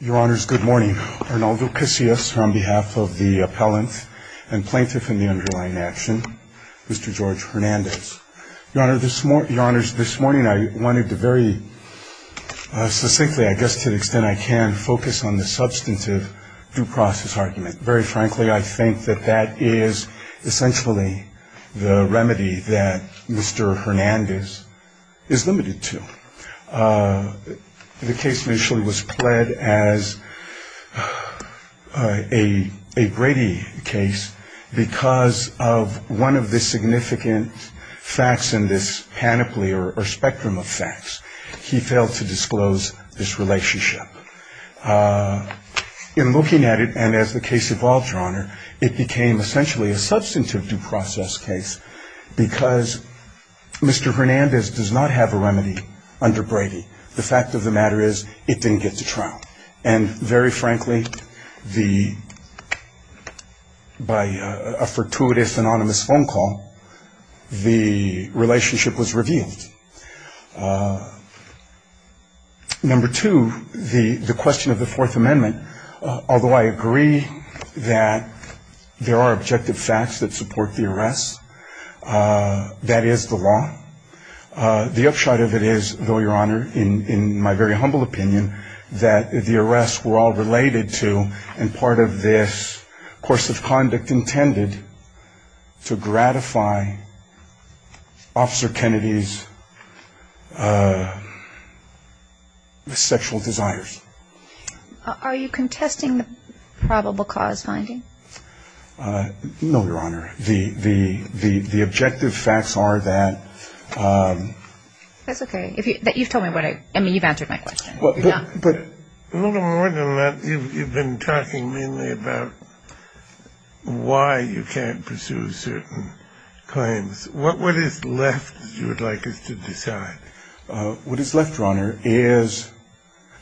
Your honors, good morning. Arnaldo Casillas on behalf of the appellant and plaintiff in the underlying action, Mr. George Hernandez. Your honors, this morning I wanted to very succinctly, I guess to the extent I can, focus on the substantive due process argument. Very frankly, I think that that is essentially the remedy that Mr. Hernandez is limited to. The case initially was pled as a Brady case because of one of the significant facts in this panoply or spectrum of facts. He failed to disclose this relationship. In looking at it, and as the case evolved, your honor, it became essentially a substantive due process case because Mr. Hernandez does not have a remedy under Brady. The fact of the matter is it didn't get to trial. And very frankly, by a fortuitous anonymous phone call, the relationship was revealed. Number two, the question of the Fourth Amendment, although I agree that there are objective facts that support the arrest, that is the law. The upshot of it is, though, your honor, in my very humble opinion, that the arrests were all related to and part of this course of conduct intended to gratify Officer Kennedy's sexual desires. Are you contesting the probable cause finding? No, your honor. The objective facts are that. That's okay. You've told me what I – I mean, you've answered my question. But a little more than that, you've been talking mainly about why you can't pursue certain claims. What is left, you would like us to decide? What is left, your honor, is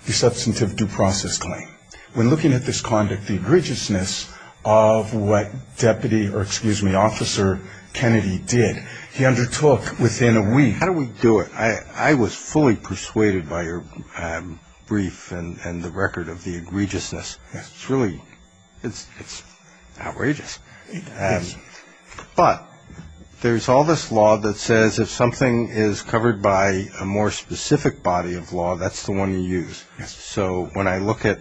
the substantive due process claim. When looking at this conduct, the egregiousness of what Deputy – or excuse me, Officer Kennedy did, he undertook within a week. How do we do it? I was fully persuaded by your brief and the record of the egregiousness. It's really – it's outrageous. But there's all this law that says if something is covered by a more specific body of law, that's the one you use. So when I look at –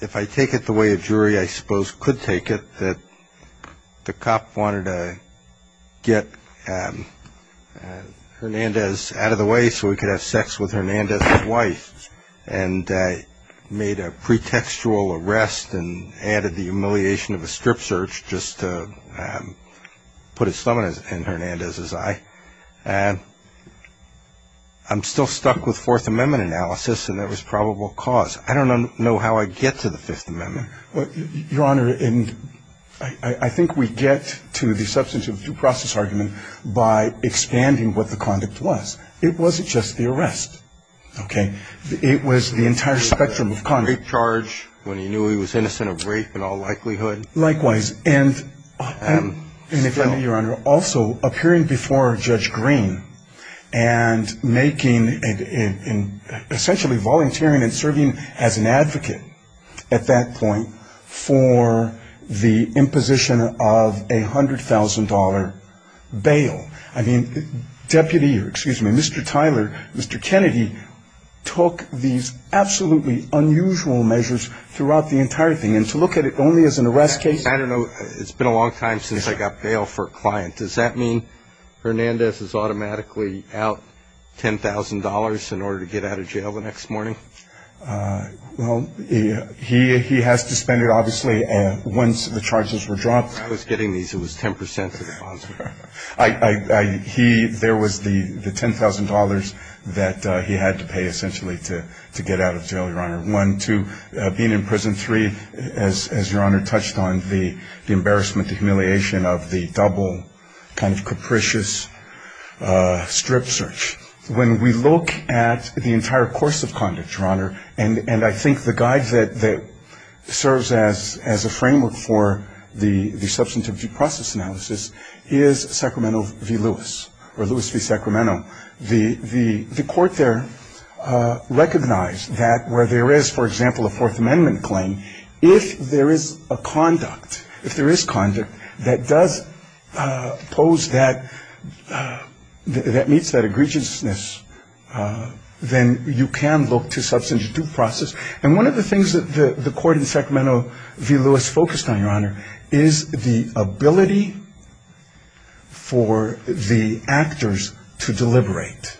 if I take it the way a jury, I suppose, could take it, that the cop wanted to get Hernandez out of the way so he could have sex with Hernandez's wife and made a pretextual arrest and added the humiliation of a strip search just to put his thumb in Hernandez's eye, I'm still stuck with Fourth Amendment analysis and there was probable cause. I don't know how I get to the Fifth Amendment. Your honor, I think we get to the substantive due process argument by expanding what the conduct was. It wasn't just the arrest. Okay? It was the entire spectrum of conduct. Rape charge when he knew he was innocent of rape in all likelihood. Likewise. And if I may, your honor, also appearing before Judge Green and making – essentially volunteering and serving as an advocate at that point for the imposition of a $100,000 bail. I mean, Deputy – or excuse me, Mr. Tyler, Mr. Kennedy, took these absolutely unusual measures throughout the entire thing. And to look at it only as an arrest case? I don't know. It's been a long time since I got bail for a client. Does that mean Hernandez is automatically out $10,000 in order to get out of jail the next morning? Well, he has to spend it obviously once the charges were dropped. I was getting these. It was 10% of the bonds. There was the $10,000 that he had to pay essentially to get out of jail, your honor. One, two, being in prison, three, as your honor touched on, the embarrassment, the humiliation of the double kind of capricious strip search. When we look at the entire course of conduct, your honor, and I think the guide that serves as a framework for the substantive due process analysis is Sacramento v. Lewis, or Lewis v. Sacramento. The court there recognized that where there is, for example, a Fourth Amendment claim, if there is a conduct, if there is conduct that does pose that, that meets that egregiousness, then you can look to substantive due process. And one of the things that the court in Sacramento v. Lewis focused on, your honor, is the ability for the actors to deliberate.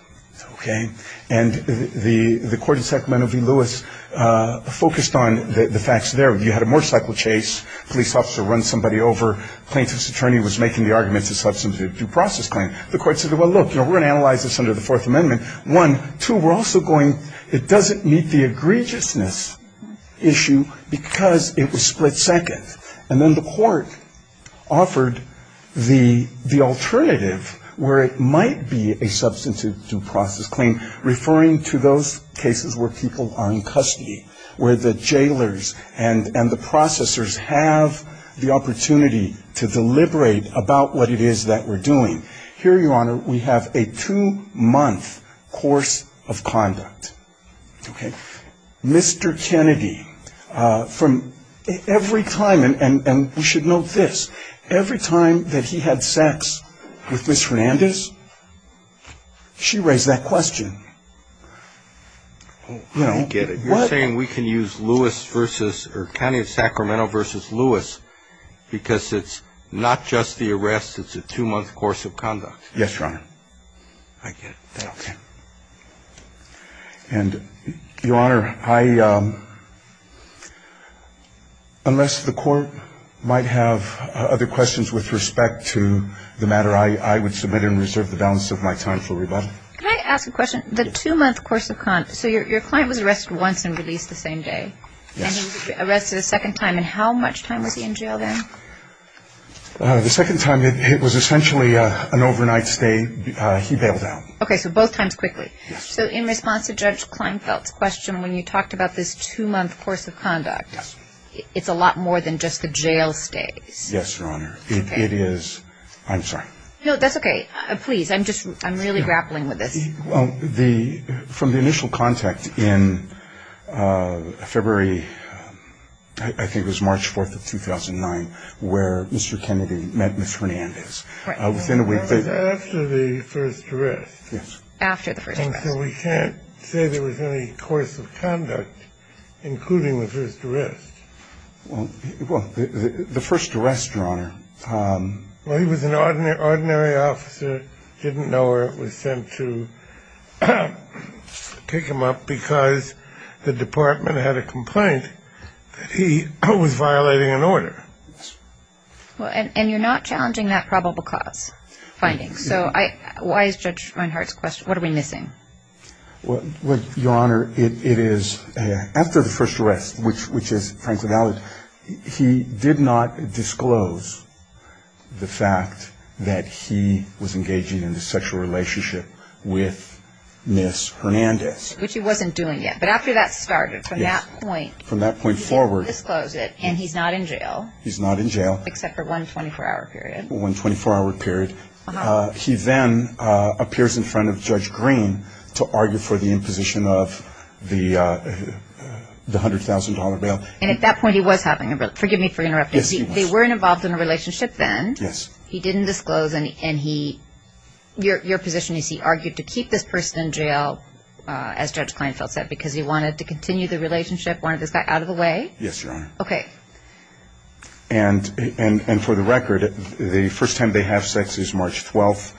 Okay? And the court in Sacramento v. Lewis focused on the facts there. You had a motorcycle chase, police officer runs somebody over, plaintiff's attorney was making the argument to substantive due process claim. The court said, well, look, we're going to analyze this under the Fourth Amendment. One, two, we're also going, it doesn't meet the egregiousness issue because it was split second. And then the court offered the alternative where it might be a substantive due process claim, referring to those cases where people are in custody, where the jailers and the processors have the opportunity to deliberate about what it is that we're doing. Here, your honor, we have a two-month course of conduct. Okay? Mr. Kennedy, from every time, and we should note this, every time that he had sex with Ms. Hernandez, she raised that question. I don't get it. You're saying we can use Lewis v. or county of Sacramento v. Lewis because it's not just the arrest, it's a two-month course of conduct. Yes, your honor. I get it. Okay. And, your honor, I, unless the court might have other questions with respect to the matter, I would submit and reserve the balance of my time for rebuttal. Can I ask a question? The two-month course of conduct, so your client was arrested once and released the same day. Yes. And he was arrested a second time. And how much time was he in jail then? The second time, it was essentially an overnight stay. He bailed out. Okay, so both times quickly. Yes. So in response to Judge Kleinfeld's question, when you talked about this two-month course of conduct, it's a lot more than just the jail stays. Yes, your honor. Okay. It is. I'm sorry. No, that's okay. Please, I'm just, I'm really grappling with this. Well, the, from the initial contact in February, I think it was March 4th of 2009, where Mr. Kennedy met Ms. Hernandez. Right. That was after the first arrest. Yes. After the first arrest. And so we can't say there was any course of conduct, including the first arrest. Well, the first arrest, your honor. Well, he was an ordinary officer, didn't know where it was sent to pick him up because the department had a complaint that he was violating an order. Well, and you're not challenging that probable cause finding. So I, why is Judge Reinhart's question, what are we missing? Well, your honor, it is, after the first arrest, which is Franklin Valley, he did not disclose the fact that he was engaging in a sexual relationship with Ms. Hernandez. Which he wasn't doing yet. But after that started, from that point. From that point forward. He didn't disclose it, and he's not in jail. He's not in jail. Except for one 24-hour period. One 24-hour period. He then appears in front of Judge Green to argue for the imposition of the $100,000 bail. And at that point he was having a, forgive me for interrupting. Yes, he was. They weren't involved in a relationship then. Yes. He didn't disclose, and he, your position is he argued to keep this person in jail, as Judge Kleinfeld said, because he wanted to continue the relationship, wanted this guy out of the way? Yes, your honor. Okay. And for the record, the first time they have sex is March 12th.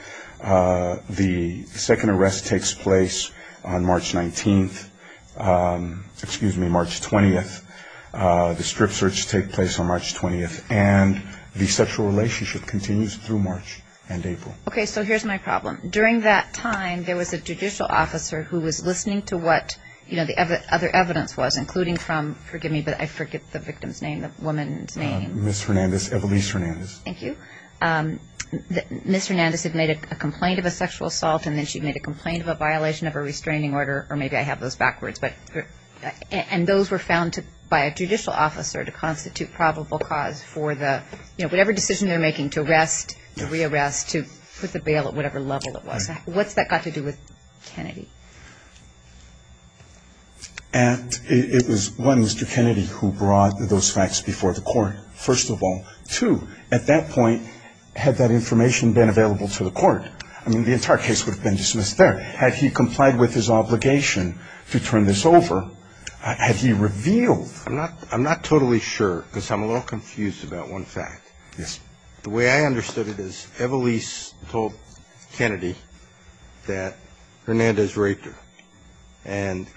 The second arrest takes place on March 19th. Excuse me, March 20th. The strip search takes place on March 20th. And the sexual relationship continues through March and April. Okay, so here's my problem. During that time, there was a judicial officer who was listening to what, you know, the other evidence was, including from, forgive me, but I forget the victim's name, the woman's name. Ms. Hernandez, Evelise Hernandez. Thank you. Ms. Hernandez had made a complaint of a sexual assault, and then she made a complaint of a violation of a restraining order, or maybe I have those backwards. And those were found by a judicial officer to constitute probable cause for the, you know, whatever decision they're making to arrest, to re-arrest, to put the bail at whatever level it was. What's that got to do with Kennedy? It was, one, Mr. Kennedy who brought those facts before the court, first of all. Two, at that point, had that information been available to the court, I mean, the entire case would have been dismissed there. Had he complied with his obligation to turn this over, had he revealed? I'm not totally sure because I'm a little confused about one fact. Yes. The way I understood it is Evelise told Kennedy that Hernandez raped her, and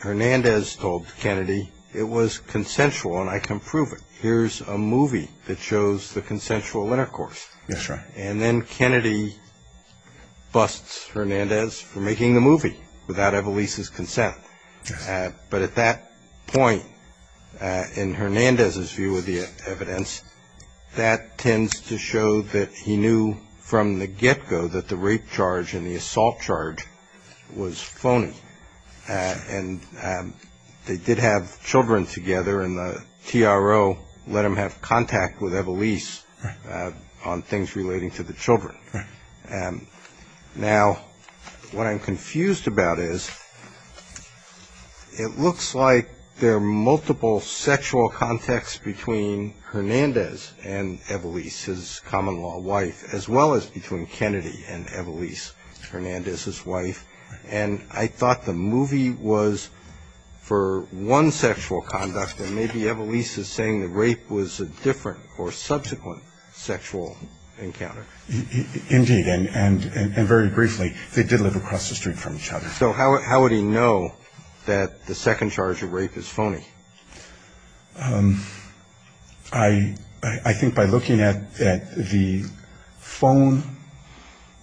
Hernandez told Kennedy it was consensual and I can prove it. Here's a movie that shows the consensual intercourse. That's right. And then Kennedy busts Hernandez for making the movie without Evelise's consent. Yes. But at that point, in Hernandez's view of the evidence, that tends to show that he knew from the get-go that the rape charge and the assault charge was phony. And they did have children together, and the TRO let him have contact with Evelise on things relating to the children. Right. Now, what I'm confused about is it looks like there are multiple sexual contacts between Hernandez and Evelise, his common-law wife, as well as between Kennedy and Evelise, Hernandez's wife. And I thought the movie was for one sexual conduct, and maybe Evelise is saying the rape was a different or subsequent sexual encounter. Indeed, and very briefly, they did live across the street from each other. So how would he know that the second charge of rape is phony? I think by looking at the phone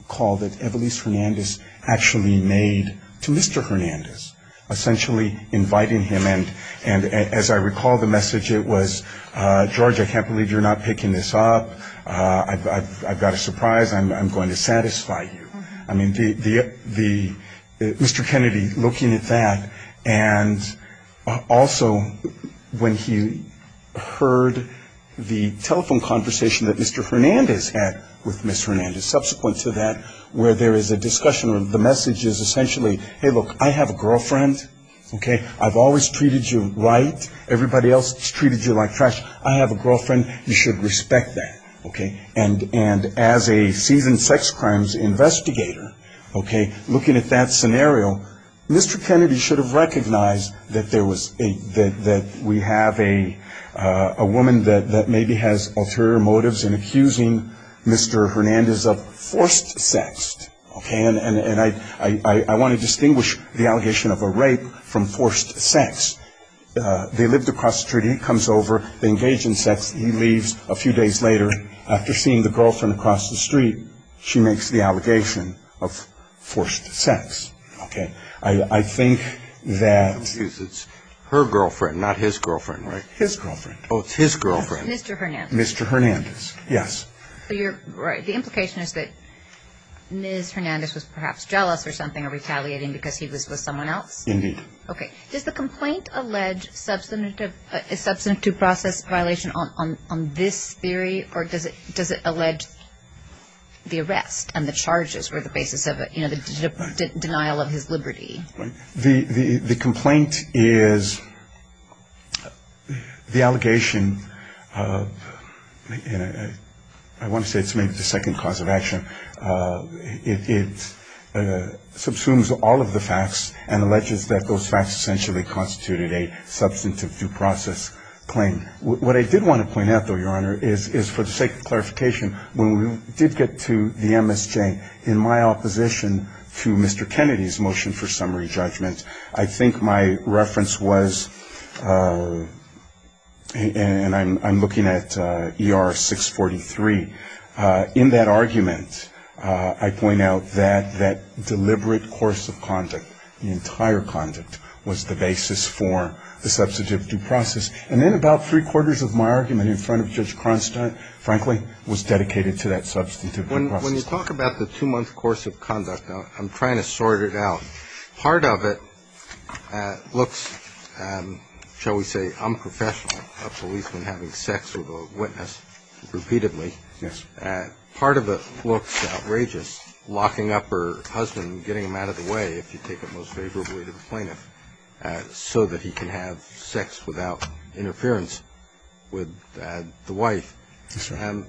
call that Evelise Hernandez actually made to Mr. Hernandez, essentially inviting him, and as I recall the message, it was, I've got a surprise, I'm going to satisfy you. I mean, Mr. Kennedy looking at that, and also when he heard the telephone conversation that Mr. Hernandez had with Ms. Hernandez, subsequent to that, where there is a discussion where the message is essentially, hey, look, I have a girlfriend, okay? I've always treated you right. Everybody else has treated you like trash. I have a girlfriend. You should respect that, okay? And as a seasoned sex crimes investigator, okay, looking at that scenario, Mr. Kennedy should have recognized that we have a woman that maybe has ulterior motives in accusing Mr. Hernandez of forced sex, okay? And I want to distinguish the allegation of a rape from forced sex. They lived across the street. He comes over. They engage in sex. He leaves. A few days later, after seeing the girlfriend across the street, she makes the allegation of forced sex, okay? I think that her girlfriend, not his girlfriend, right? His girlfriend. Oh, it's his girlfriend. Mr. Hernandez. Mr. Hernandez, yes. So you're right. The implication is that Ms. Hernandez was perhaps jealous or something or retaliating because he was with someone else? Indeed. Okay. Does the complaint allege substantive process violation on this theory, or does it allege the arrest and the charges were the basis of the denial of his liberty? The complaint is the allegation of, I want to say it's maybe the second cause of action. It subsumes all of the facts and alleges that those facts essentially constituted a substantive due process claim. What I did want to point out, though, Your Honor, is for the sake of clarification, when we did get to the MSJ, in my opposition to Mr. Kennedy's motion for summary judgment, I think my reference was, and I'm looking at ER 643, in that argument I point out that that deliberate course of conduct, the entire conduct, was the basis for the substantive due process. And then about three-quarters of my argument in front of Judge Cronstein, frankly, was dedicated to that substantive due process. When you talk about the two-month course of conduct, I'm trying to sort it out. Part of it looks, shall we say, unprofessional, a policeman having sex with a witness repeatedly. Yes. Part of it looks outrageous, locking up her husband, getting him out of the way, if you take it most favorably to the plaintiff, so that he can have sex without interference with the wife. Yes, sir.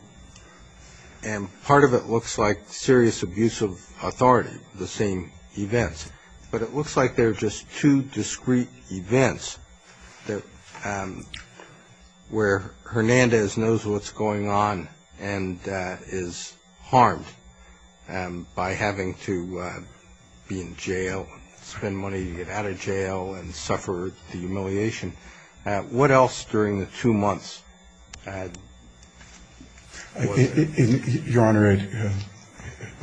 And part of it looks like serious abuse of authority, the same events. But it looks like they're just two discrete events where Hernandez knows what's going on and is harmed by having to be in jail, spend money to get out of jail, and suffer the humiliation. What else during the two months? Your Honor,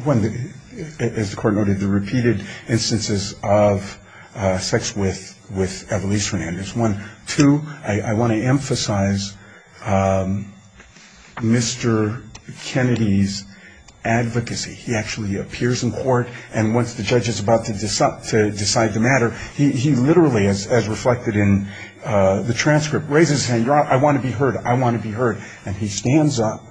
one, as the Court noted, the repeated instances of sex with Evelise Hernandez, one. Two, I want to emphasize Mr. Kennedy's advocacy. He actually appears in court, and once the judge is about to decide the matter, he literally, as reflected in the transcript, raises his hand, Your Honor, I want to be heard, I want to be heard, and he stands up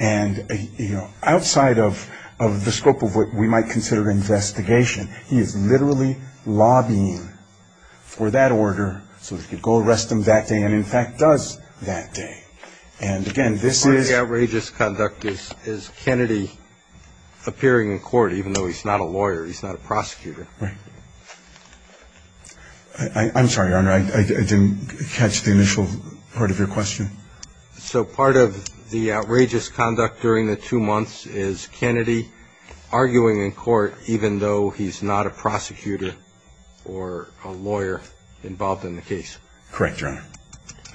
and, you know, outside of the scope of what we might consider an investigation, he is literally lobbying for that order so he could go arrest him that day and, in fact, does that day. And, again, this is. Part of the outrageous conduct is Kennedy appearing in court, even though he's not a lawyer, he's not a prosecutor. Right. I'm sorry, Your Honor. I didn't catch the initial part of your question. So part of the outrageous conduct during the two months is Kennedy arguing in court even though he's not a prosecutor or a lawyer involved in the case. Correct, Your Honor.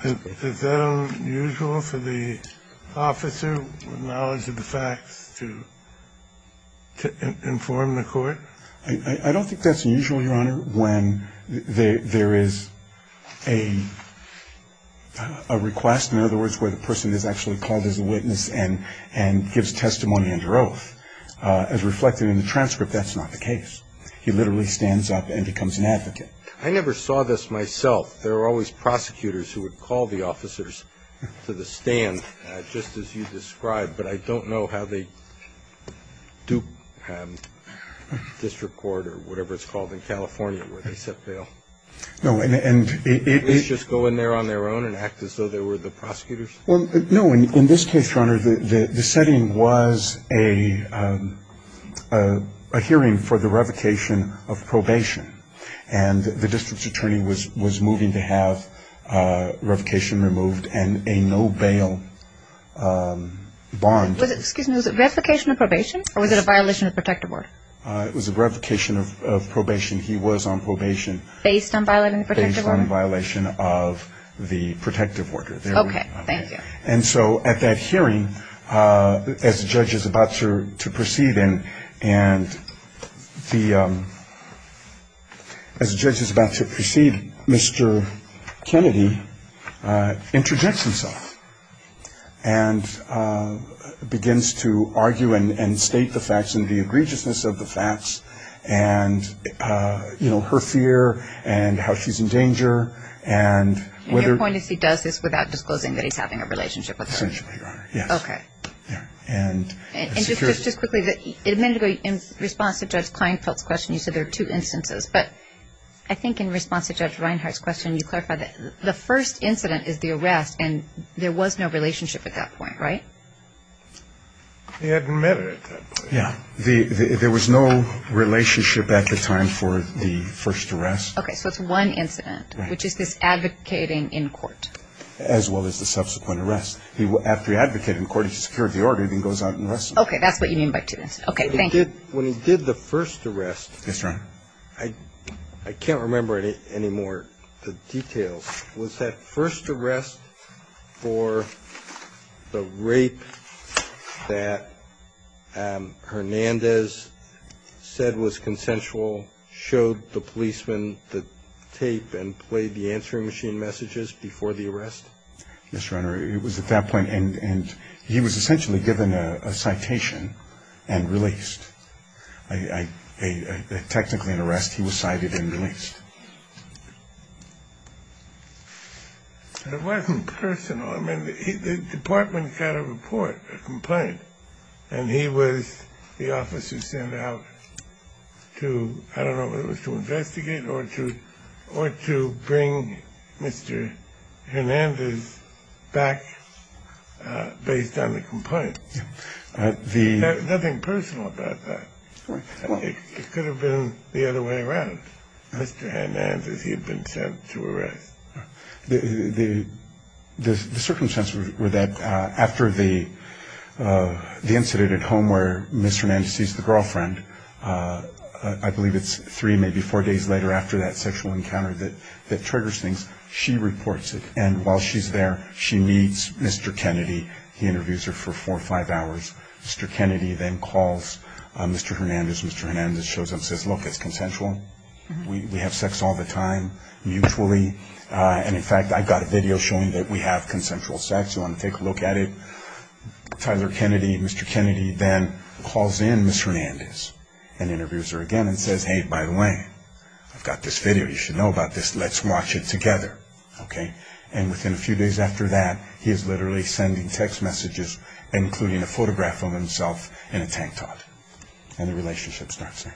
Is that unusual for the officer with knowledge of the facts to inform the court? I don't think that's unusual, Your Honor, when there is a request, in other words, where the person is actually called as a witness and gives testimony under oath. As reflected in the transcript, that's not the case. He literally stands up and becomes an advocate. I never saw this myself. There are always prosecutors who would call the officers to the stand, just as you So did you have to go to the district court or whatever it's called in California where they set bail? No, and it is just go in there on their own and act as though they were the prosecutors? No. In this case, Your Honor, the setting was a hearing for the revocation of probation and the district's attorney was moving to have revocation removed and a no-bail bond. Excuse me. Was it revocation of probation or was it a violation of protective order? It was a revocation of probation. He was on probation. Based on violating the protective order? Based on violation of the protective order. Okay. Thank you. And so at that hearing, as the judge is about to proceed, Mr. Kennedy interjects himself and begins to argue and state the facts and the egregiousness of the facts and, you know, her fear and how she's in danger. And your point is he does this without disclosing that he's having a relationship with her? Essentially, Your Honor. Yes. Okay. And just quickly, a minute ago, in response to Judge Kleinfeld's question, you said there are two instances. But I think in response to Judge Reinhart's question, you clarified that the first incident is the arrest and there was no relationship at that point, right? He admitted at that point. Yeah. There was no relationship at the time for the first arrest. Okay. So it's one incident, which is this advocating in court. As well as the subsequent arrest. After he advocated in court, he secured the order and he goes out and arrests them. Okay. That's what you mean by two incidents. Okay. Thank you. When he did the first arrest. Yes, Your Honor. I can't remember any more details. Was that first arrest for the rape that Hernandez said was consensual, showed the policeman the tape and played the answering machine messages before the arrest? Yes, Your Honor. It was at that point. And he was essentially given a citation and released. Technically an arrest. He was cited and released. It wasn't personal. I mean, the department got a report, a complaint, and he was the officer sent out to, I don't know, whether it was to investigate or to bring Mr. Hernandez back based on the complaint. Nothing personal about that. It could have been the other way around. Mr. Hernandez, he had been sent to arrest. The circumstances were that after the incident at home where Mr. Hernandez sees the girlfriend, I believe it's three, maybe four days later after that sexual encounter that triggers things, she reports it. And while she's there, she meets Mr. Kennedy. He interviews her for four or five hours. Mr. Kennedy then calls Mr. Hernandez. Mr. Hernandez shows up and says, look, it's consensual. We have sex all the time mutually. And in fact, I've got a video showing that we have consensual sex. You want to take a look at it? Tyler Kennedy, Mr. Kennedy then calls in Ms. Hernandez and interviews her again and says, hey, by the way, I've got this video. You should know about this. Let's watch it together. Okay. And within a few days after that, he is literally sending text messages, including a photograph of himself in a tank top. And the relationship starts there.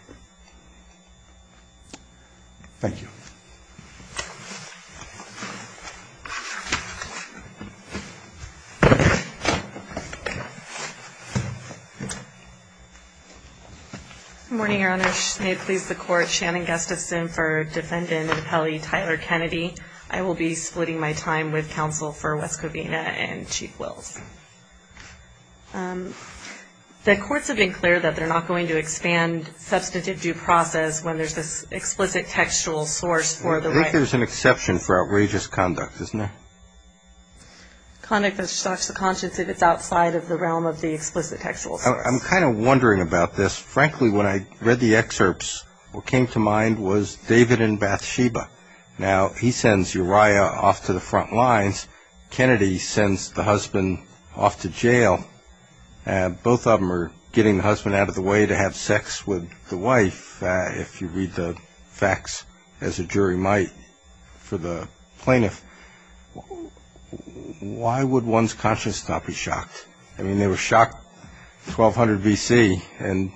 Thank you. Good morning, Your Honor. May it please the Court. Shannon Gustafson for Defendant and Appellee Tyler Kennedy. I will be splitting my time with counsel for Wes Covina and Chief Wills. The courts have been clear that they're not going to expand substantive due process when there's this explicit textual source for the right. I think there's an exception for outrageous conduct, isn't there? Conduct that shocks the conscience if it's outside of the realm of the explicit textual source. I'm kind of wondering about this. Frankly, when I read the excerpts, what came to mind was David and Bathsheba. Now, he sends Uriah off to the front lines. Kennedy sends the husband off to jail. Both of them are getting the husband out of the way to have sex with the wife, if you read the facts as a jury might for the plaintiff. Why would one's conscience not be shocked? I mean, they were shocked 1,200 B.C., and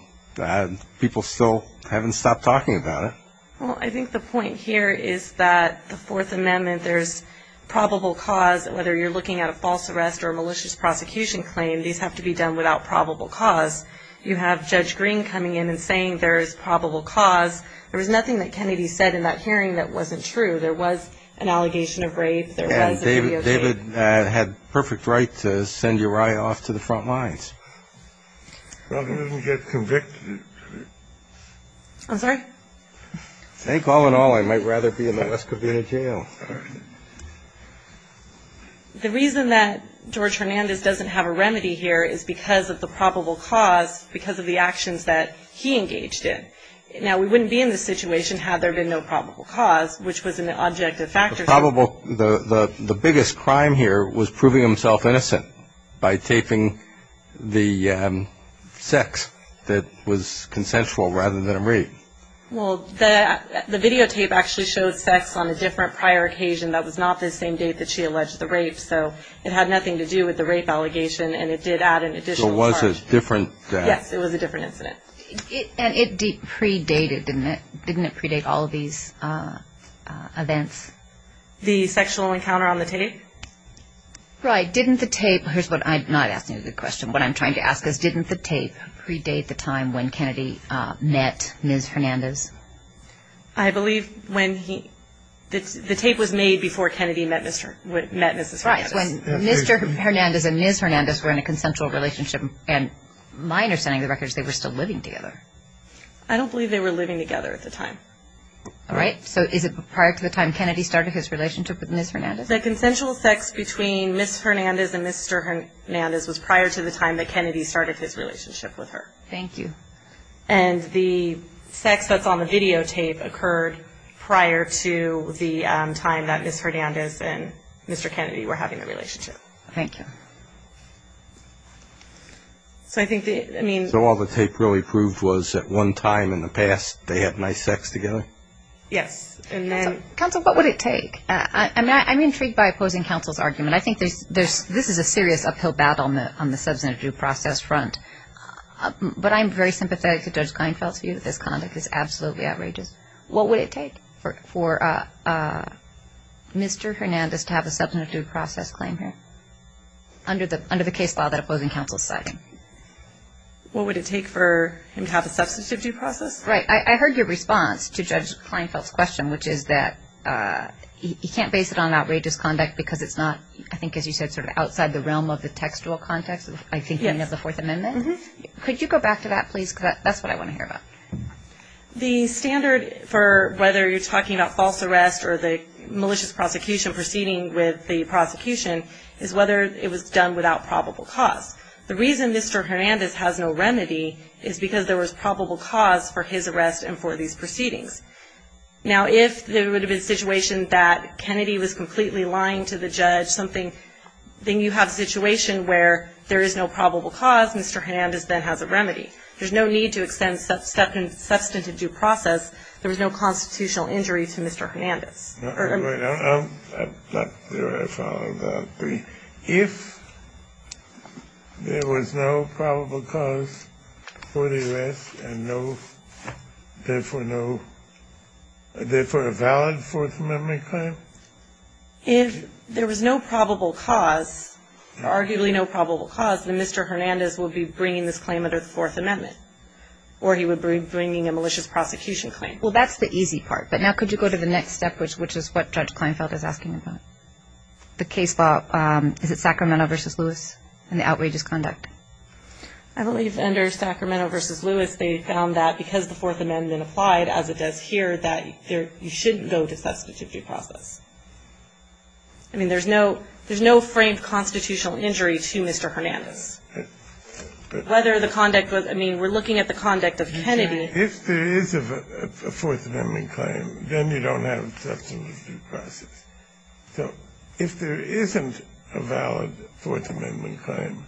people still haven't stopped talking about it. Well, I think the point here is that the Fourth Amendment, there's probable cause, whether you're looking at a false arrest or a malicious prosecution claim, these have to be done without probable cause. You have Judge Green coming in and saying there is probable cause. There was nothing that Kennedy said in that hearing that wasn't true. There was an allegation of rape. There was a video tape. And David had perfect right to send Uriah off to the front lines. Well, he didn't get convicted. I'm sorry? I think all in all, I might rather be in the West Covina jail. The reason that George Hernandez doesn't have a remedy here is because of the probable cause, because of the actions that he engaged in. Now, we wouldn't be in this situation had there been no probable cause, which was an objective factor. The biggest crime here was proving himself innocent by taping the sex that was consensual rather than rape. Well, the videotape actually showed sex on a different prior occasion. That was not the same date that she alleged the rape. So it had nothing to do with the rape allegation, and it did add an additional charge. So it was a different death. Yes, it was a different incident. And it predated, didn't it? Didn't it predate all of these events? The sexual encounter on the tape? Right. Didn't the tape? Here's what I'm not asking you the question. What I'm trying to ask is didn't the tape predate the time when Kennedy met Ms. Hernandez? I believe when he, the tape was made before Kennedy met Mrs. Hernandez. Right. When Mr. Hernandez and Ms. Hernandez were in a consensual relationship, and my understanding of the record is they were still living together. I don't believe they were living together at the time. All right. So is it prior to the time Kennedy started his relationship with Ms. Hernandez? The consensual sex between Ms. Hernandez and Mr. Hernandez was prior to the time that Kennedy started his relationship with her. Thank you. And the sex that's on the videotape occurred prior to the time that Ms. Hernandez and Mr. Kennedy were having the relationship. Thank you. So I think the, I mean. So all the tape really proved was at one time in the past they had nice sex together? Yes. And then. Counsel, what would it take? I'm intrigued by opposing counsel's argument. I think this is a serious uphill battle on the substantive due process front. But I'm very sympathetic to Judge Kleinfeld's view that this conduct is absolutely outrageous. What would it take for Mr. Hernandez to have a substantive due process claim here under the case law that opposing counsel is citing? What would it take for him to have a substantive due process? Right. I heard your response to Judge Kleinfeld's question, which is that he can't base it on outrageous conduct because it's not, I think, as you said, sort of outside the realm of the textual context by thinking of the Fourth Amendment. Could you go back to that, please? Because that's what I want to hear about. The standard for whether you're talking about false arrest or the malicious prosecution proceeding with the prosecution is whether it was done without probable cause. The reason Mr. Hernandez has no remedy is because there was probable cause for his arrest and for these proceedings. Now, if there would have been a situation that Kennedy was completely lying to the judge, then you have a situation where there is no probable cause, Mr. Hernandez then has a remedy. There's no need to extend substantive due process. There was no constitutional injury to Mr. Hernandez. If there was no probable cause for the arrest and no, therefore no, therefore a valid Fourth Amendment claim? If there was no probable cause, arguably no probable cause, then Mr. Hernandez would be bringing this claim under the Fourth Amendment, or he would be bringing a malicious prosecution claim. Well, that's the easy part. But now could you go to the next step, which is what Judge Kleinfeld is asking about? The case law. Is it Sacramento v. Lewis and the outrageous conduct? I believe under Sacramento v. Lewis, they found that because the Fourth Amendment applied, as it does here, that you shouldn't go to substantive due process. I mean, there's no framed constitutional injury to Mr. Hernandez. Whether the conduct was – I mean, we're looking at the conduct of Kennedy. If there is a Fourth Amendment claim, then you don't have substantive due process. So if there isn't a valid Fourth Amendment claim,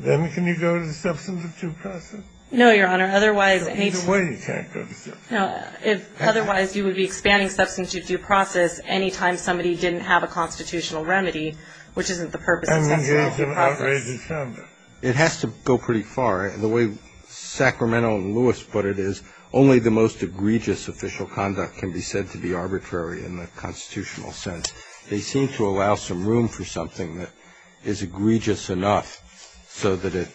then can you go to substantive due process? No, Your Honor. Otherwise, any – Either way, you can't go to substantive due process. Otherwise, you would be expanding substantive due process anytime somebody didn't have a constitutional remedy, which isn't the purpose of substantive due process. And engage in outrageous conduct. It has to go pretty far. The way Sacramento v. Lewis put it is, only the most egregious official conduct can be said to be arbitrary in the constitutional sense. They seem to allow some room for something that is egregious enough so that it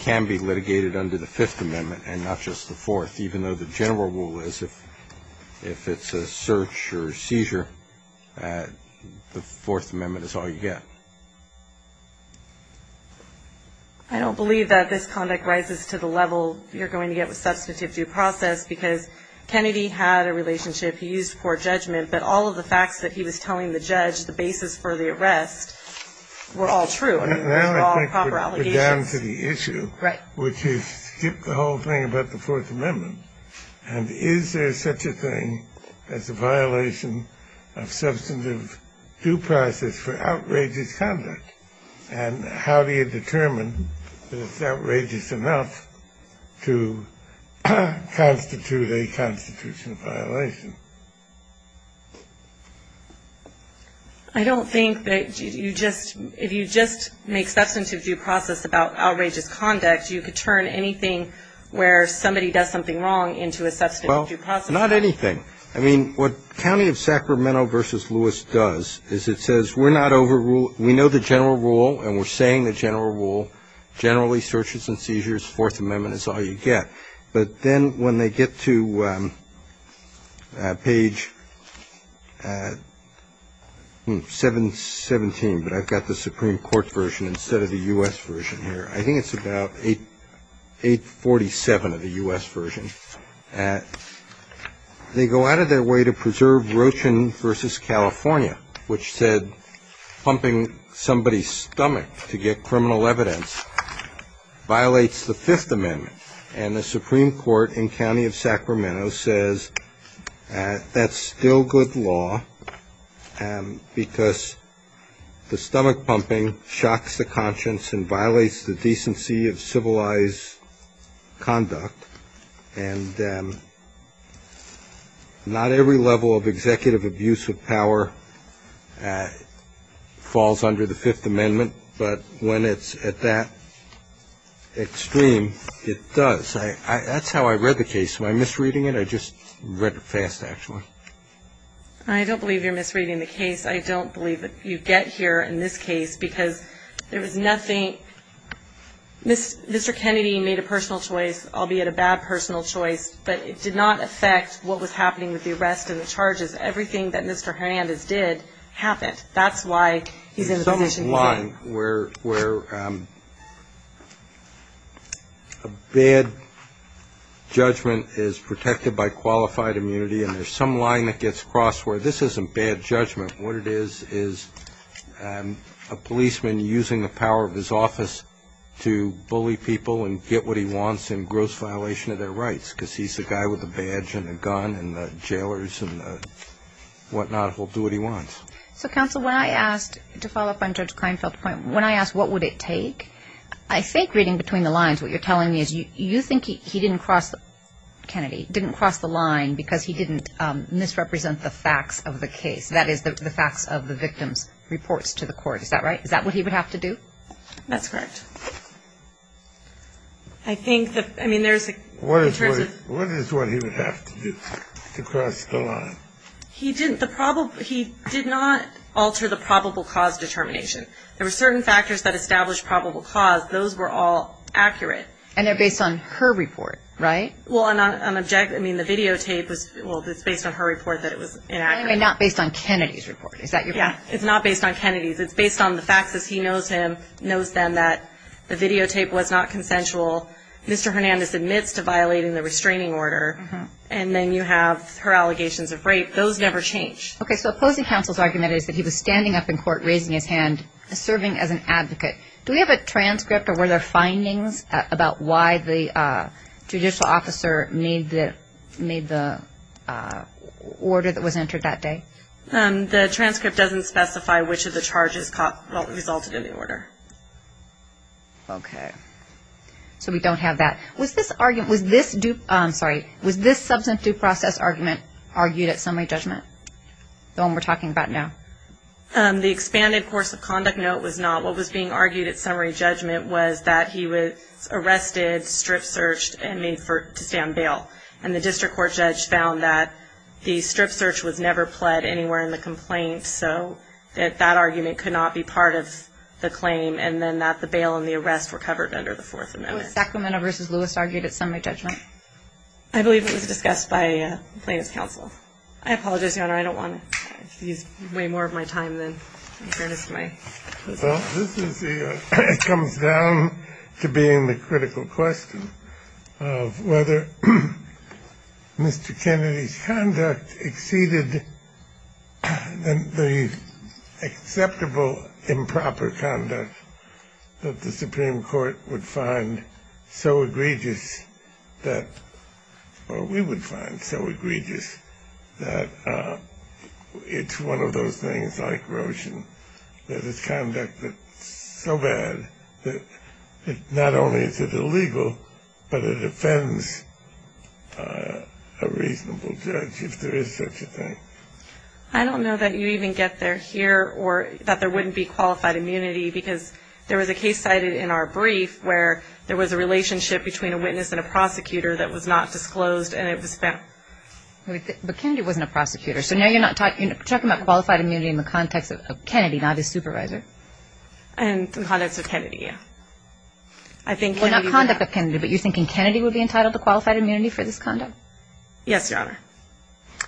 can be litigated under the Fifth Amendment and not just the Fourth, even though the general rule is if it's a search or seizure, the Fourth Amendment is all you get. I don't believe that this conduct rises to the level you're going to get with substantive due process because Kennedy had a relationship he used for judgment, but all of the facts that he was telling the judge, the basis for the arrest, were all true. I mean, they were all proper allegations. Right. Which is skip the whole thing about the Fourth Amendment. And is there such a thing as a violation of substantive due process for outrageous conduct? And how do you determine that it's outrageous enough to constitute a constitutional violation? I don't think that you just, if you just make substantive due process about outrageous conduct, you could turn anything where somebody does something wrong into a substantive due process. Well, not anything. I mean, what County of Sacramento v. Lewis does is it says we're not overruled, we know the general rule and we're saying the general rule, generally searches and seizures, Fourth Amendment is all you get. But then when they get to page 717, but I've got the Supreme Court version instead of the U.S. version here. I think it's about 847 of the U.S. version. They go out of their way to preserve Rochin v. California, which said pumping somebody's stomach to get criminal evidence violates the Fifth Amendment. And the Supreme Court in County of Sacramento says that's still good law because the stomach pumping shocks the conscience and violates the decency of civilized conduct. And not every level of executive abuse of power falls under the Fifth Amendment. But when it's at that extreme, it does. That's how I read the case. Am I misreading it? I just read it fast, actually. I don't believe you're misreading the case. I don't believe that you get here in this case because there was nothing. Mr. Kennedy made a personal choice, albeit a bad personal choice, but it did not affect what was happening with the arrest and the charges. Everything that Mr. Hernandez did happened. That's why he's in the position he's in. There's some line where a bad judgment is protected by qualified immunity, and there's some line that gets crossed where this isn't bad judgment. What it is is a policeman using the power of his office to bully people and get what he wants in gross violation of their rights because he's the guy with the badge and the gun and the jailers and whatnot will do what he wants. So, counsel, when I asked, to follow up on Judge Kleinfeld's point, when I asked what would it take, I think reading between the lines, what you're telling me is you think he didn't cross the line because he didn't misrepresent the facts of the case, that is, the facts of the victim's reports to the court. Is that right? Is that what he would have to do? That's correct. I think that, I mean, there's in terms of What is what he would have to do to cross the line? He did not alter the probable cause determination. There were certain factors that established probable cause. Those were all accurate. And they're based on her report, right? Well, I mean, the videotape was, well, it's based on her report that it was inaccurate. And not based on Kennedy's report. Is that your point? Yeah, it's not based on Kennedy's. It's based on the facts as he knows them that the videotape was not consensual. Mr. Hernandez admits to violating the restraining order, and then you have her allegations of rape. Those never change. Okay, so opposing counsel's argument is that he was standing up in court, raising his hand, serving as an advocate. Do we have a transcript, or were there findings, about why the judicial officer made the order that was entered that day? The transcript doesn't specify which of the charges resulted in the order. Okay, so we don't have that. Was this substantive due process argument argued at summary judgment, the one we're talking about now? The expanded course of conduct, no, it was not. What was being argued at summary judgment was that he was arrested, strip searched, and made to stand bail. And the district court judge found that the strip search was never pled anywhere in the complaint, so that that argument could not be part of the claim, and then that the bail and the arrest were covered under the Fourth Amendment. So Sacramento v. Lewis argued at summary judgment? I believe it was discussed by plaintiff's counsel. I apologize, Your Honor. I don't want to waste way more of my time than I've earnest my position. Well, this is the – it comes down to being the critical question of whether Mr. find so egregious that – or we would find so egregious that it's one of those things, like Roshan, that is conducted so bad that not only is it illegal, but it offends a reasonable judge if there is such a thing. I don't know that you even get there here or that there wouldn't be qualified immunity, because there was a case cited in our brief where there was a relationship between a witness and a prosecutor that was not disclosed, and it was found. But Kennedy wasn't a prosecutor. So now you're talking about qualified immunity in the context of Kennedy, not his supervisor? In the context of Kennedy, yeah. Well, not conduct of Kennedy, but you're thinking Kennedy would be entitled to qualified immunity for this conduct? Yes, Your Honor.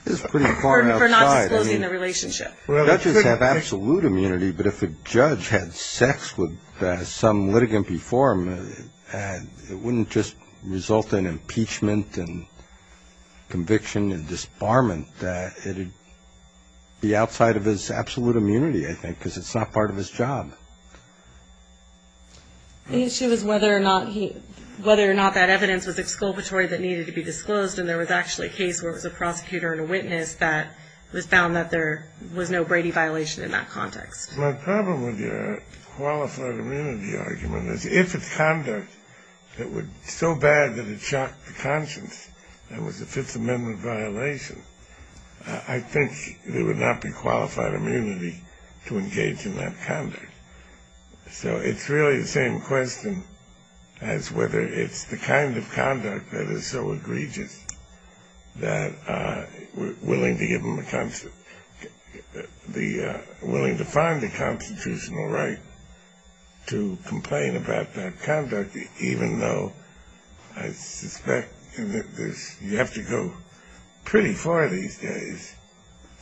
This is pretty far outside. For not disclosing the relationship. Judges have absolute immunity, but if a judge had sex with some litigant before him, it wouldn't just result in impeachment and conviction and disbarment. It would be outside of his absolute immunity, I think, because it's not part of his job. The issue is whether or not that evidence was exculpatory that needed to be disclosed, and there was actually a case where it was a prosecutor and a witness that was found that there was no Brady violation in that context. My problem with your qualified immunity argument is, if it's conduct that was so bad that it shocked the conscience and was a Fifth Amendment violation, I think there would not be qualified immunity to engage in that conduct. So it's really the same question as whether it's the kind of conduct that is so egregious that we're willing to give them a constant – willing to find the constitutional right to complain about that conduct, even though I suspect you have to go pretty far these days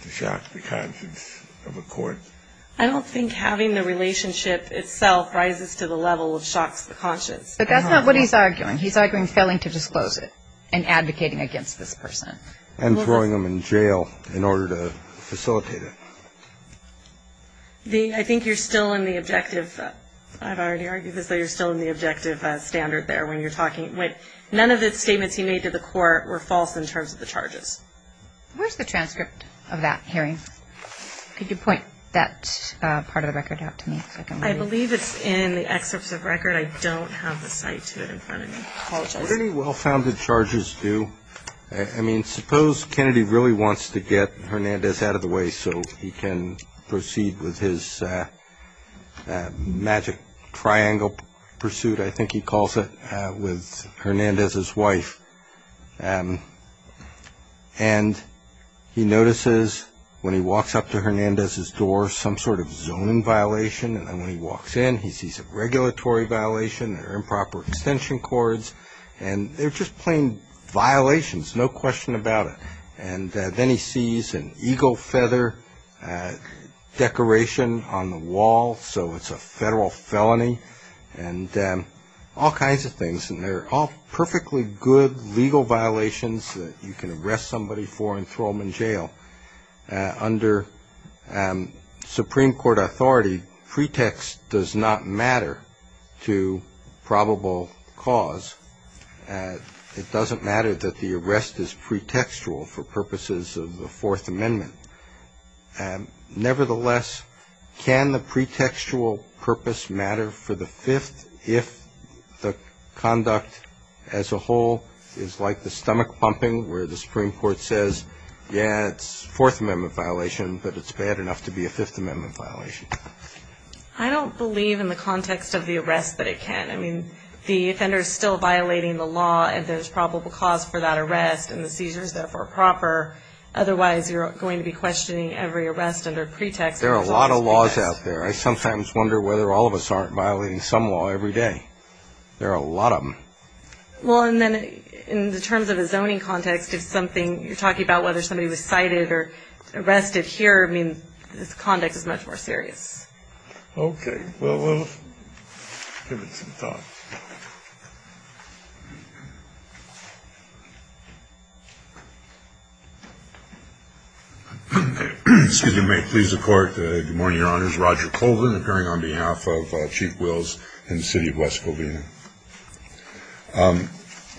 to shock the conscience of a court. I don't think having the relationship itself rises to the level of shocks the conscience. But that's not what he's arguing. He's arguing failing to disclose it and advocating against this person. And throwing them in jail in order to facilitate it. I think you're still in the objective – I've already argued this, though you're still in the objective standard there when you're talking – none of the statements he made to the court were false in terms of the charges. Where's the transcript of that hearing? Could you point that part of the record out to me? I believe it's in the excerpts of record. I don't have the cite to it in front of me. I apologize. What do the well-founded charges do? I mean, suppose Kennedy really wants to get Hernandez out of the way so he can proceed with his magic triangle pursuit, I think he calls it, with Hernandez's wife. And he notices when he walks up to Hernandez's door some sort of zoning violation. And when he walks in, he sees a regulatory violation, improper extension cords. And they're just plain violations, no question about it. And then he sees an eagle feather decoration on the wall, so it's a federal felony. And all kinds of things. And they're all perfectly good legal violations that you can arrest somebody for and throw them in jail. Under Supreme Court authority, pretext does not matter to probable cause. It doesn't matter that the arrest is pretextual for purposes of the Fourth Amendment. Nevertheless, can the pretextual purpose matter for the Fifth if the conduct as a whole is like the stomach pumping where the Supreme Court says, yeah, it's a Fourth Amendment violation, but it's bad enough to be a Fifth Amendment violation? I don't believe in the context of the arrest that it can. I mean, the offender is still violating the law, and there's probable cause for that arrest, and the seizure is therefore proper. Otherwise, you're going to be questioning every arrest under pretext. There are a lot of laws out there. I sometimes wonder whether all of us aren't violating some law every day. There are a lot of them. Well, and then in the terms of a zoning context, if something you're talking about whether somebody was cited or arrested here, I mean, this conduct is much more serious. Okay. Well, we'll give it some thought. Excuse me. May it please the Court. Good morning, Your Honors. Roger Colvin, appearing on behalf of Chief Wills in the city of West Covina.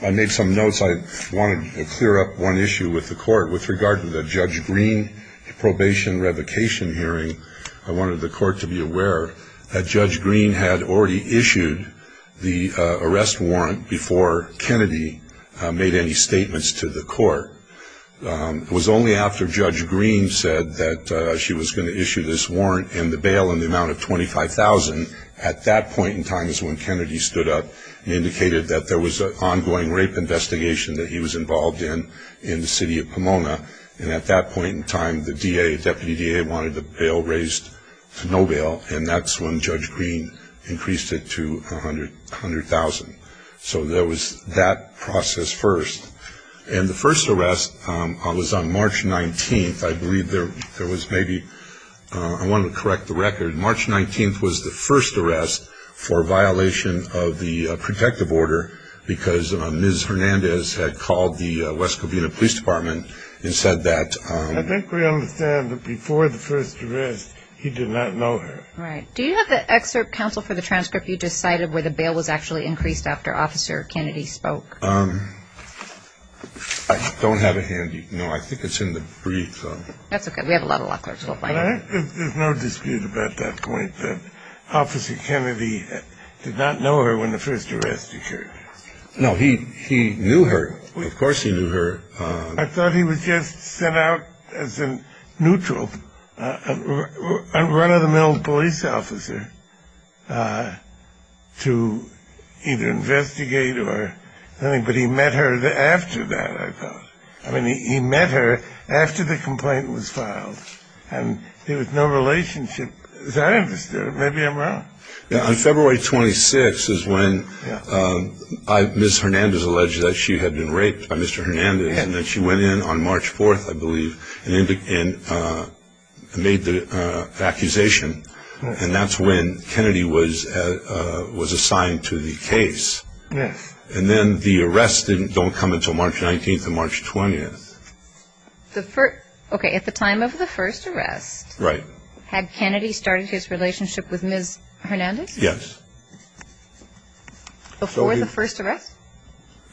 I made some notes. I wanted to clear up one issue with the Court. With regard to the Judge Green probation revocation hearing, I wanted the Court to be aware that Judge Green had already issued the arrest warrant before Kennedy made any statements to the Court. It was only after Judge Green said that she was going to issue this warrant and the bail in the amount of $25,000 at that point in time is when Kennedy stood up and indicated that there was an ongoing rape investigation that he was involved in in the city of Pomona. And at that point in time, the DA, Deputy DA, wanted the bail raised to no bail, and that's when Judge Green increased it to $100,000. So there was that process first. And the first arrest was on March 19th. I believe there was maybe – I wanted to correct the record. March 19th was the first arrest for violation of the protective order because Ms. Hernandez had called the West Covina Police Department and said that – I think we understand that before the first arrest he did not know her. Right. Do you have the excerpt, counsel, for the transcript you just cited where the bail was actually increased after Officer Kennedy spoke? I don't have it handy. No, I think it's in the brief. That's okay. We have a lot of law clerks. We'll find it. There's no dispute about that point that Officer Kennedy did not know her when the first arrest occurred. No, he knew her. Of course he knew her. I thought he was just sent out as a neutral run-of-the-mill police officer to either investigate or something, but he met her after that, I thought. I mean, he met her after the complaint was filed. And there was no relationship, as I understood it. Maybe I'm wrong. On February 26th is when Ms. Hernandez alleged that she had been raped by Mr. Hernandez and that she went in on March 4th, I believe, and made the accusation. And that's when Kennedy was assigned to the case. Yes. And then the arrest didn't come until March 19th and March 20th. Okay. At the time of the first arrest. Right. Had Kennedy started his relationship with Ms. Hernandez? Yes. Before the first arrest?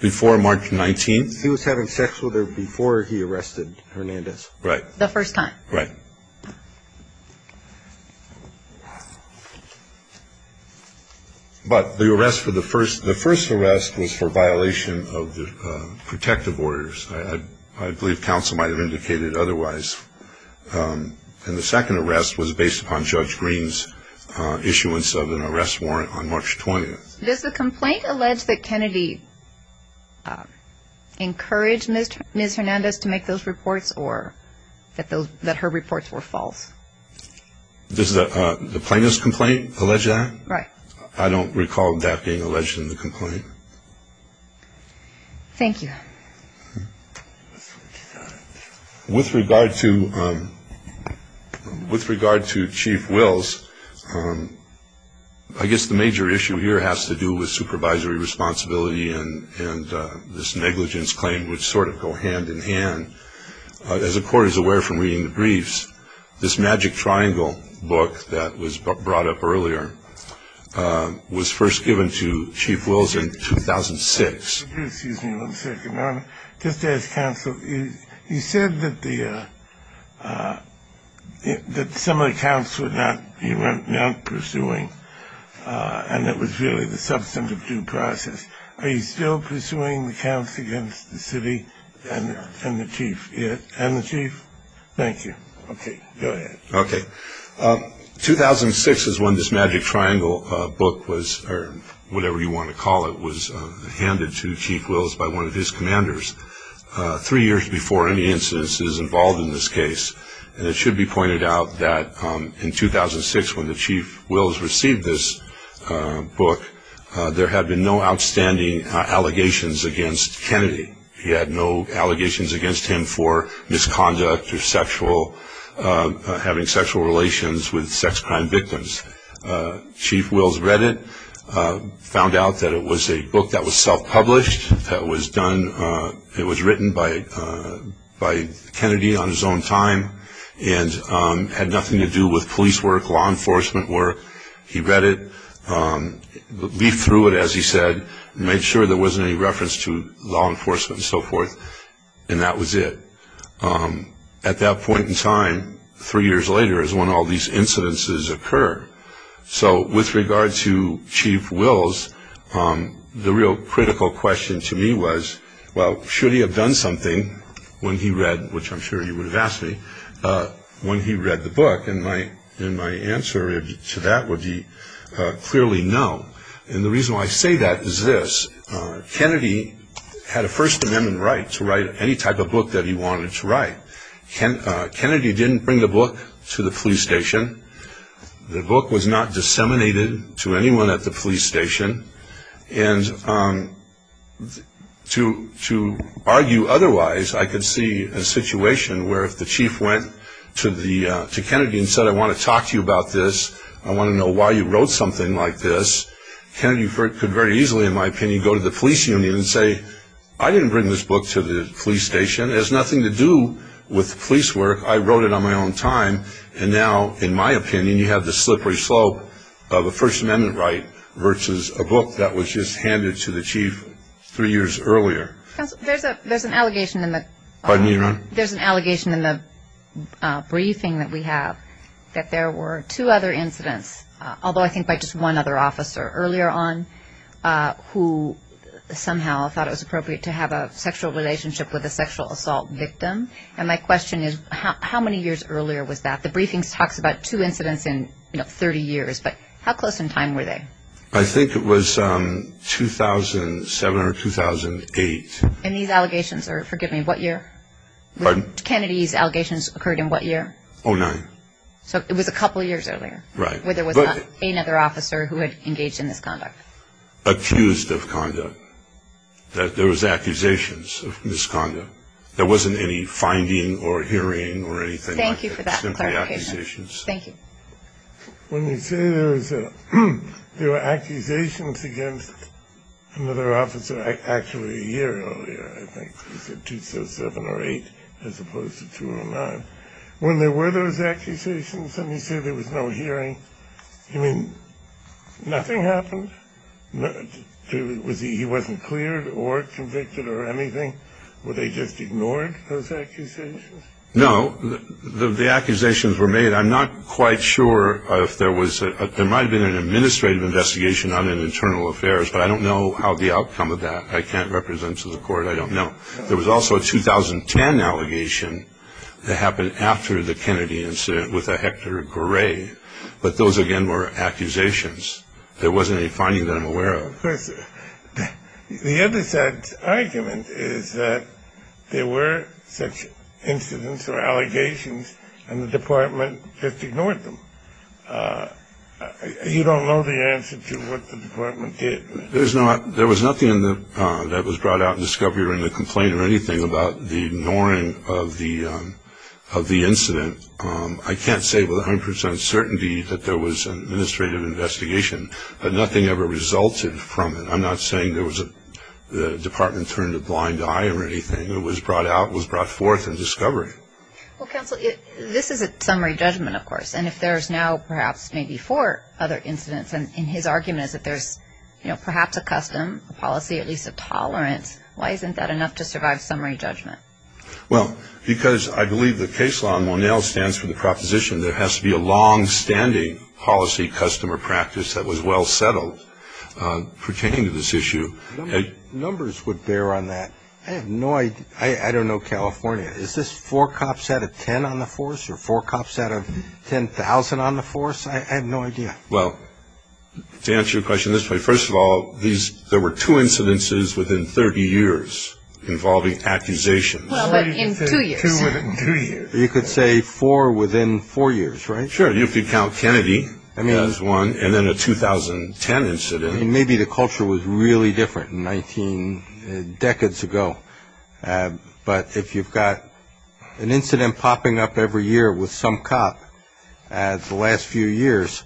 Before March 19th. He was having sex with her before he arrested Hernandez. Right. The first time. Right. But the arrest for the first, the first arrest was for violation of the protective orders. I believe counsel might have indicated otherwise. And the second arrest was based upon Judge Green's issuance of an arrest warrant on March 20th. Does the complaint allege that Kennedy encouraged Ms. Hernandez to make those reports or that her reports were false? Does the plaintiff's complaint allege that? Right. I don't recall that being alleged in the complaint. Thank you. With regard to Chief Wills, I guess the major issue here has to do with supervisory responsibility and this negligence claim, which sort of go hand in hand. As the court is aware from reading the briefs, this Magic Triangle book that was brought up earlier was first given to Chief Wills in 2006. Excuse me one second. Just to ask counsel, you said that some of the counts were not pursuing and it was really the substantive due process. Are you still pursuing the counts against the city and the chief? Yes. And the chief? Thank you. Okay. Go ahead. Okay. 2006 is when this Magic Triangle book was, or whatever you want to call it, was handed to Chief Wills by one of his commanders, three years before any instances involved in this case. And it should be pointed out that in 2006 when the Chief Wills received this book, there had been no outstanding allegations against Kennedy. He had no allegations against him for misconduct or sexual, having sexual relations with sex crime victims. Chief Wills read it, found out that it was a book that was self-published, that was done, it was written by Kennedy on his own time and had nothing to do with police work, law enforcement work. He read it, leafed through it, as he said, made sure there wasn't any reference to law enforcement and so forth, and that was it. At that point in time, three years later, is when all these incidences occur. So with regard to Chief Wills, the real critical question to me was, well, should he have done something when he read, which I'm sure he would have asked me, when he read the book, and my answer to that would be clearly no. And the reason why I say that is this. Kennedy had a First Amendment right to write any type of book that he wanted to write. Kennedy didn't bring the book to the police station. The book was not disseminated to anyone at the police station. And to argue otherwise, I could see a situation where if the chief went to Kennedy and said, I want to talk to you about this, I want to know why you wrote something like this, Kennedy could very easily, in my opinion, go to the police union and say, I didn't bring this book to the police station, it has nothing to do with police work, I wrote it on my own time, and now, in my opinion, you have the slippery slope of a First Amendment right versus a book that was just handed to the chief three years earlier. There's an allegation in the briefing that we have that there were two other incidents, although I think by just one other officer earlier on, who somehow thought it was appropriate to have a sexual relationship with a sexual assault victim. And my question is, how many years earlier was that? The briefing talks about two incidents in 30 years, but how close in time were they? I think it was 2007 or 2008. And these allegations are, forgive me, what year? Pardon? Kennedy's allegations occurred in what year? 2009. So it was a couple of years earlier. Right. Where there was not another officer who had engaged in this conduct. Accused of conduct, that there was accusations of misconduct. There wasn't any finding or hearing or anything like that. It was simply accusations. Thank you. When you say there were accusations against another officer, actually a year earlier, I think it was 2007 or 2008 as opposed to 2009, when there were those accusations and you say there was no hearing, you mean nothing happened? He wasn't cleared or convicted or anything? Were they just ignored, those accusations? No. The accusations were made. I'm not quite sure if there was, there might have been an administrative investigation on an internal affairs, but I don't know how the outcome of that, I can't represent to the court, I don't know. There was also a 2010 allegation that happened after the Kennedy incident with a Hector Gray, but those, again, were accusations. There wasn't any finding that I'm aware of. Well, of course, the other side's argument is that there were such incidents or allegations and the department just ignored them. You don't know the answer to what the department did. There was nothing that was brought out in the discovery or in the complaint or anything about the ignoring of the incident. I can't say with 100% certainty that there was an administrative investigation, but nothing ever resulted from it. I'm not saying the department turned a blind eye or anything. It was brought out, it was brought forth in discovery. Well, counsel, this is a summary judgment, of course, and if there's now perhaps maybe four other incidents, and his argument is that there's perhaps a custom, a policy, at least a tolerance, why isn't that enough to survive summary judgment? Well, because I believe the case law in Monell stands for the proposition there has to be a longstanding policy customer practice that was well settled pertaining to this issue. Numbers would bear on that. I have no idea. I don't know, California, is this four cops out of ten on the force or four cops out of 10,000 on the force? I have no idea. Well, to answer your question this way, first of all, there were two incidences within 30 years involving accusations. Well, but in two years. Two within two years. You could say four within four years, right? Sure. You could count Kennedy as one, and then a 2010 incident. Maybe the culture was really different 19 decades ago, but if you've got an incident popping up every year with some cop the last few years,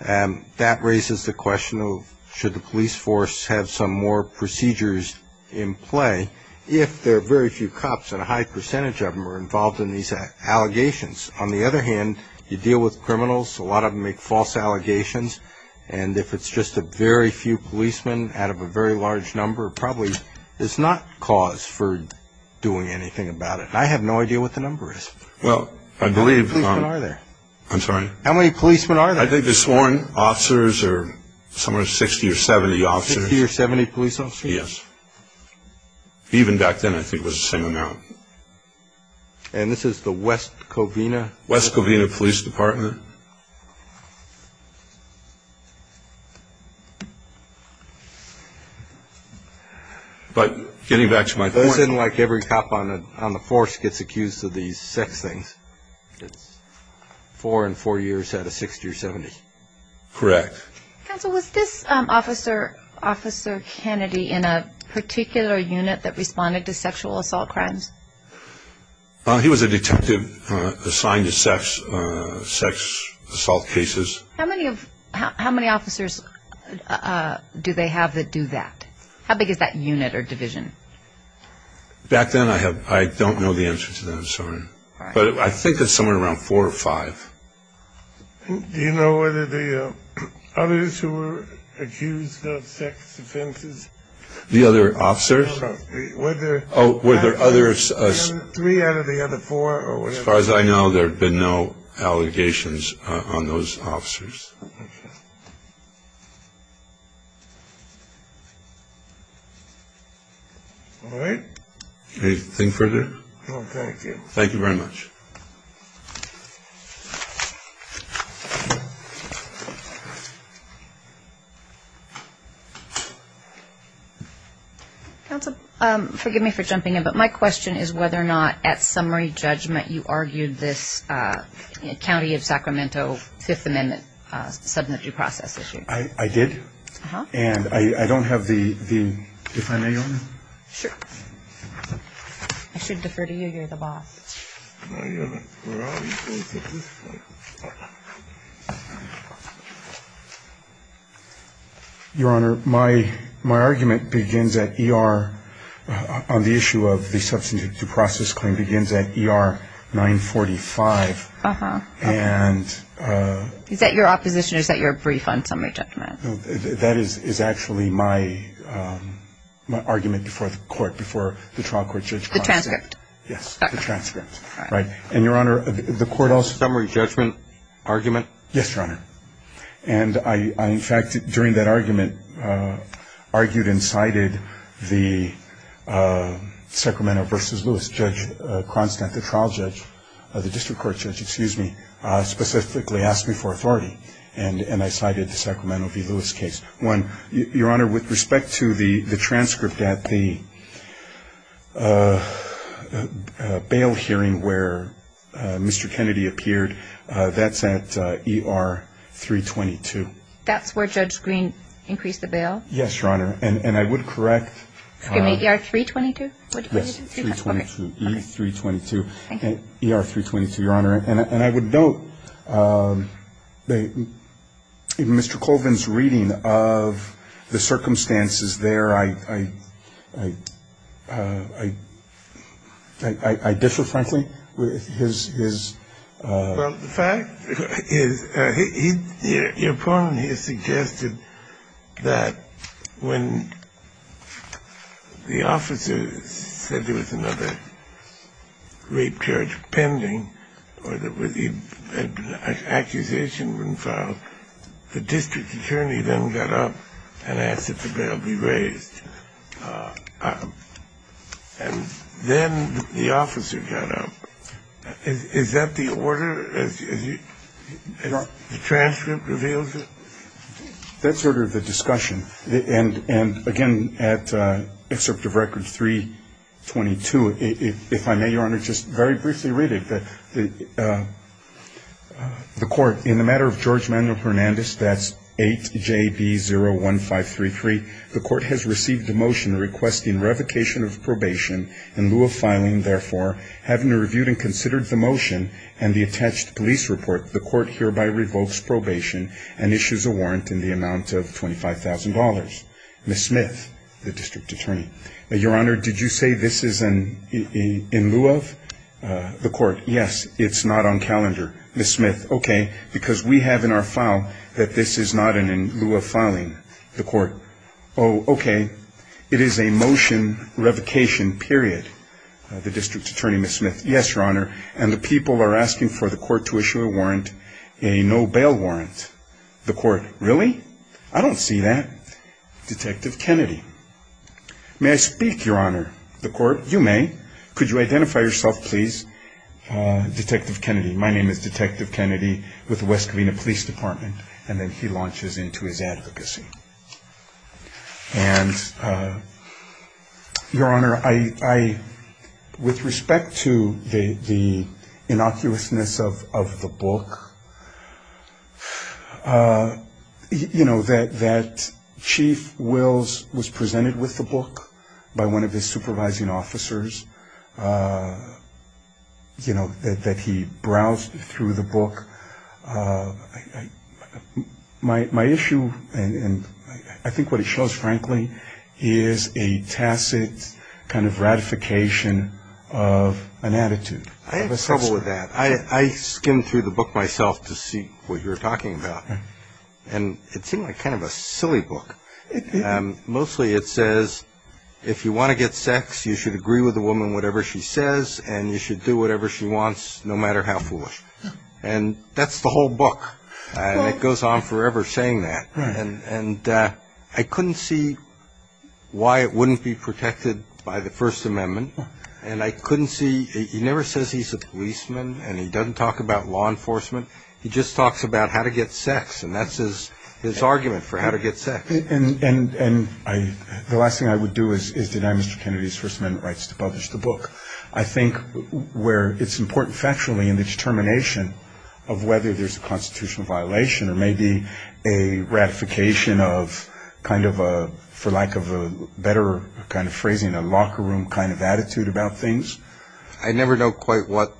that raises the question of should the police force have some more procedures in play if there are very few cops and a high percentage of them are involved in these allegations. On the other hand, you deal with criminals. A lot of them make false allegations. And if it's just a very few policemen out of a very large number, probably it's not cause for doing anything about it. I have no idea what the number is. Well, I believe. How many policemen are there? I'm sorry? How many policemen are there? I think there's sworn officers or somewhere 60 or 70 officers. 60 or 70 police officers? Yes. Even back then I think it was the same amount. And this is the West Covina? West Covina Police Department. But getting back to my point. It isn't like every cop on the force gets accused of these six things. It's four in four years out of 60 or 70. Correct. Counsel, was this Officer Kennedy in a particular unit that responded to sexual assault crimes? He was a detective assigned to sex assault cases. How many officers do they have that do that? How big is that unit or division? Back then I don't know the answer to that. I'm sorry. But I think it's somewhere around four or five. Do you know whether the others who were accused of sex offenses? The other officers? Were there three out of the other four or whatever? As far as I know, there have been no allegations on those officers. Okay. All right. Anything further? No, thank you. Thank you very much. Thank you. Counsel, forgive me for jumping in, but my question is whether or not at summary judgment you argued this County of Sacramento Fifth Amendment subject to process issue. I did. Uh-huh. And I don't have the finale on it. Sure. I should defer to you. You're the boss. Your Honor, my argument begins at E.R. on the issue of the subject to process claim begins at E.R. 945. Uh-huh. And. Is that your opposition or is that your brief on summary judgment? That is actually my argument before the court, before the trial court judge. The transcript. Yes, the transcript. Okay. Right. And, Your Honor, the court also. Summary judgment argument? Yes, Your Honor. And I, in fact, during that argument, argued and cited the Sacramento v. Lewis judge, Constant, the trial judge, the district court judge, excuse me, specifically asked me for authority, and I cited the Sacramento v. Lewis case. One, Your Honor, with respect to the transcript at the bail hearing where Mr. Kennedy appeared, that's at E.R. 322. That's where Judge Green increased the bail? Yes, Your Honor. And I would correct. Excuse me, E.R. 322? Yes, 322. Okay. E.R. 322, Your Honor. And I would note that in Mr. Colvin's reading of the circumstances there, I, I, I, I, I differ, frankly, with his, his. Well, the fact is he, he, your opponent here suggested that when the officer said there was another rape charge pending or there was an accusation being filed, the district attorney then got up and asked if the bail be raised. And then the officer got up. Is that the order? The transcript reveals it? That's sort of the discussion. And, and, again, at excerpt of record 322, if I may, Your Honor, just very briefly read it. The, the court, in the matter of George Manuel Hernandez, that's 8JB01533, the court has received a motion requesting revocation of probation in lieu of filing, therefore, having reviewed and considered the motion and the attached police report, the court hereby revokes probation and issues a warrant in the amount of $25,000. Ms. Smith, the district attorney. Your Honor, did you say this is in lieu of the court? Yes, it's not on calendar. Ms. Smith, okay, because we have in our file that this is not in lieu of filing. The court, oh, okay, it is a motion revocation, period. The district attorney, Ms. Smith. Yes, Your Honor. And the people are asking for the court to issue a warrant, a no bail warrant. The court, really? I don't see that. Detective Kennedy. May I speak, Your Honor? The court, you may. Could you identify yourself, please? Detective Kennedy. My name is Detective Kennedy with the West Covina Police Department. And then he launches into his advocacy. And, Your Honor, with respect to the innocuousness of the book, you know, that Chief Wills was presented with the book by one of his supervising officers, you know, that he browsed through the book. My issue, and I think what it shows, frankly, is a tacit kind of ratification of an attitude. I have trouble with that. I skimmed through the book myself to see what you're talking about. And it seemed like kind of a silly book. Mostly it says, if you want to get sex, you should agree with the woman whatever she says, and you should do whatever she wants no matter how foolish. And that's the whole book. And it goes on forever saying that. And I couldn't see why it wouldn't be protected by the First Amendment. And I couldn't see he never says he's a policeman and he doesn't talk about law enforcement. He just talks about how to get sex. And that's his argument for how to get sex. And the last thing I would do is deny Mr. Kennedy's First Amendment rights to publish the book. I think where it's important factually in the determination of whether there's a constitutional violation or maybe a ratification of kind of a, for lack of a better kind of phrasing, a locker room kind of attitude about things. I never know quite what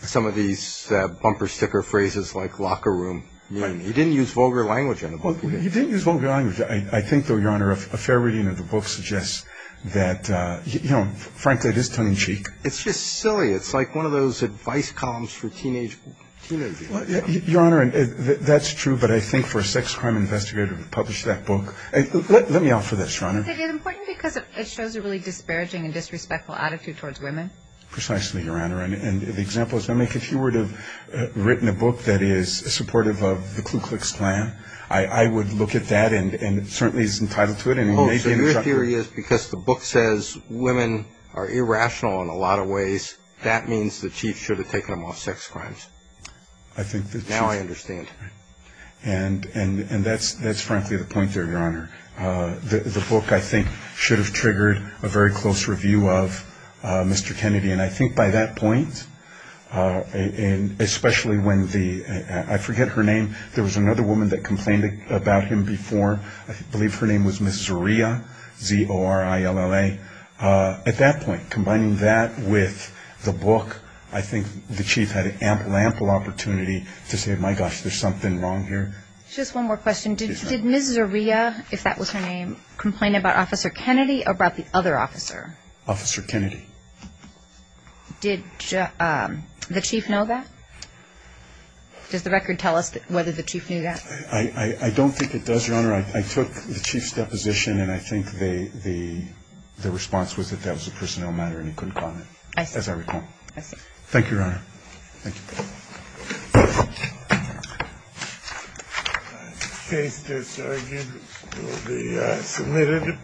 some of these bumper sticker phrases like locker room mean. He didn't use vulgar language in the book. He didn't use vulgar language. I think, though, Your Honor, a fair reading of the book suggests that, you know, frankly, it is tongue-in-cheek. It's just silly. It's like one of those advice columns for teenagers. Your Honor, that's true, but I think for a sex crime investigator to publish that book. Let me offer this, Your Honor. Is it important because it shows a really disparaging and disrespectful attitude towards women? Precisely, Your Honor. And the example is, I mean, if you were to have written a book that is supportive of the Ku Klux Klan, I would look at that and certainly is entitled to it. Oh, so your theory is because the book says women are irrational in a lot of ways, that means the chief should have taken them off sex crimes. I think that's right. Now I understand. And that's frankly the point there, Your Honor. The book, I think, should have triggered a very close review of Mr. Kennedy, and I think by that point, especially when the, I forget her name, there was another woman that complained about him before. I believe her name was Ms. Zaria, Z-O-R-I-L-A. At that point, combining that with the book, I think the chief had an ample, ample opportunity to say, my gosh, there's something wrong here. Just one more question. Did Ms. Zaria, if that was her name, complain about Officer Kennedy or about the other officer? Officer Kennedy. Did the chief know that? Does the record tell us whether the chief knew that? I don't think it does, Your Honor. I took the chief's deposition, and I think the response was that that was a personnel matter and he couldn't comment. I see. As I recall. I see. Thank you, Your Honor. Thank you. The case that's argued will be submitted.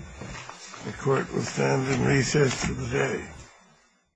The Court will stand in recess today.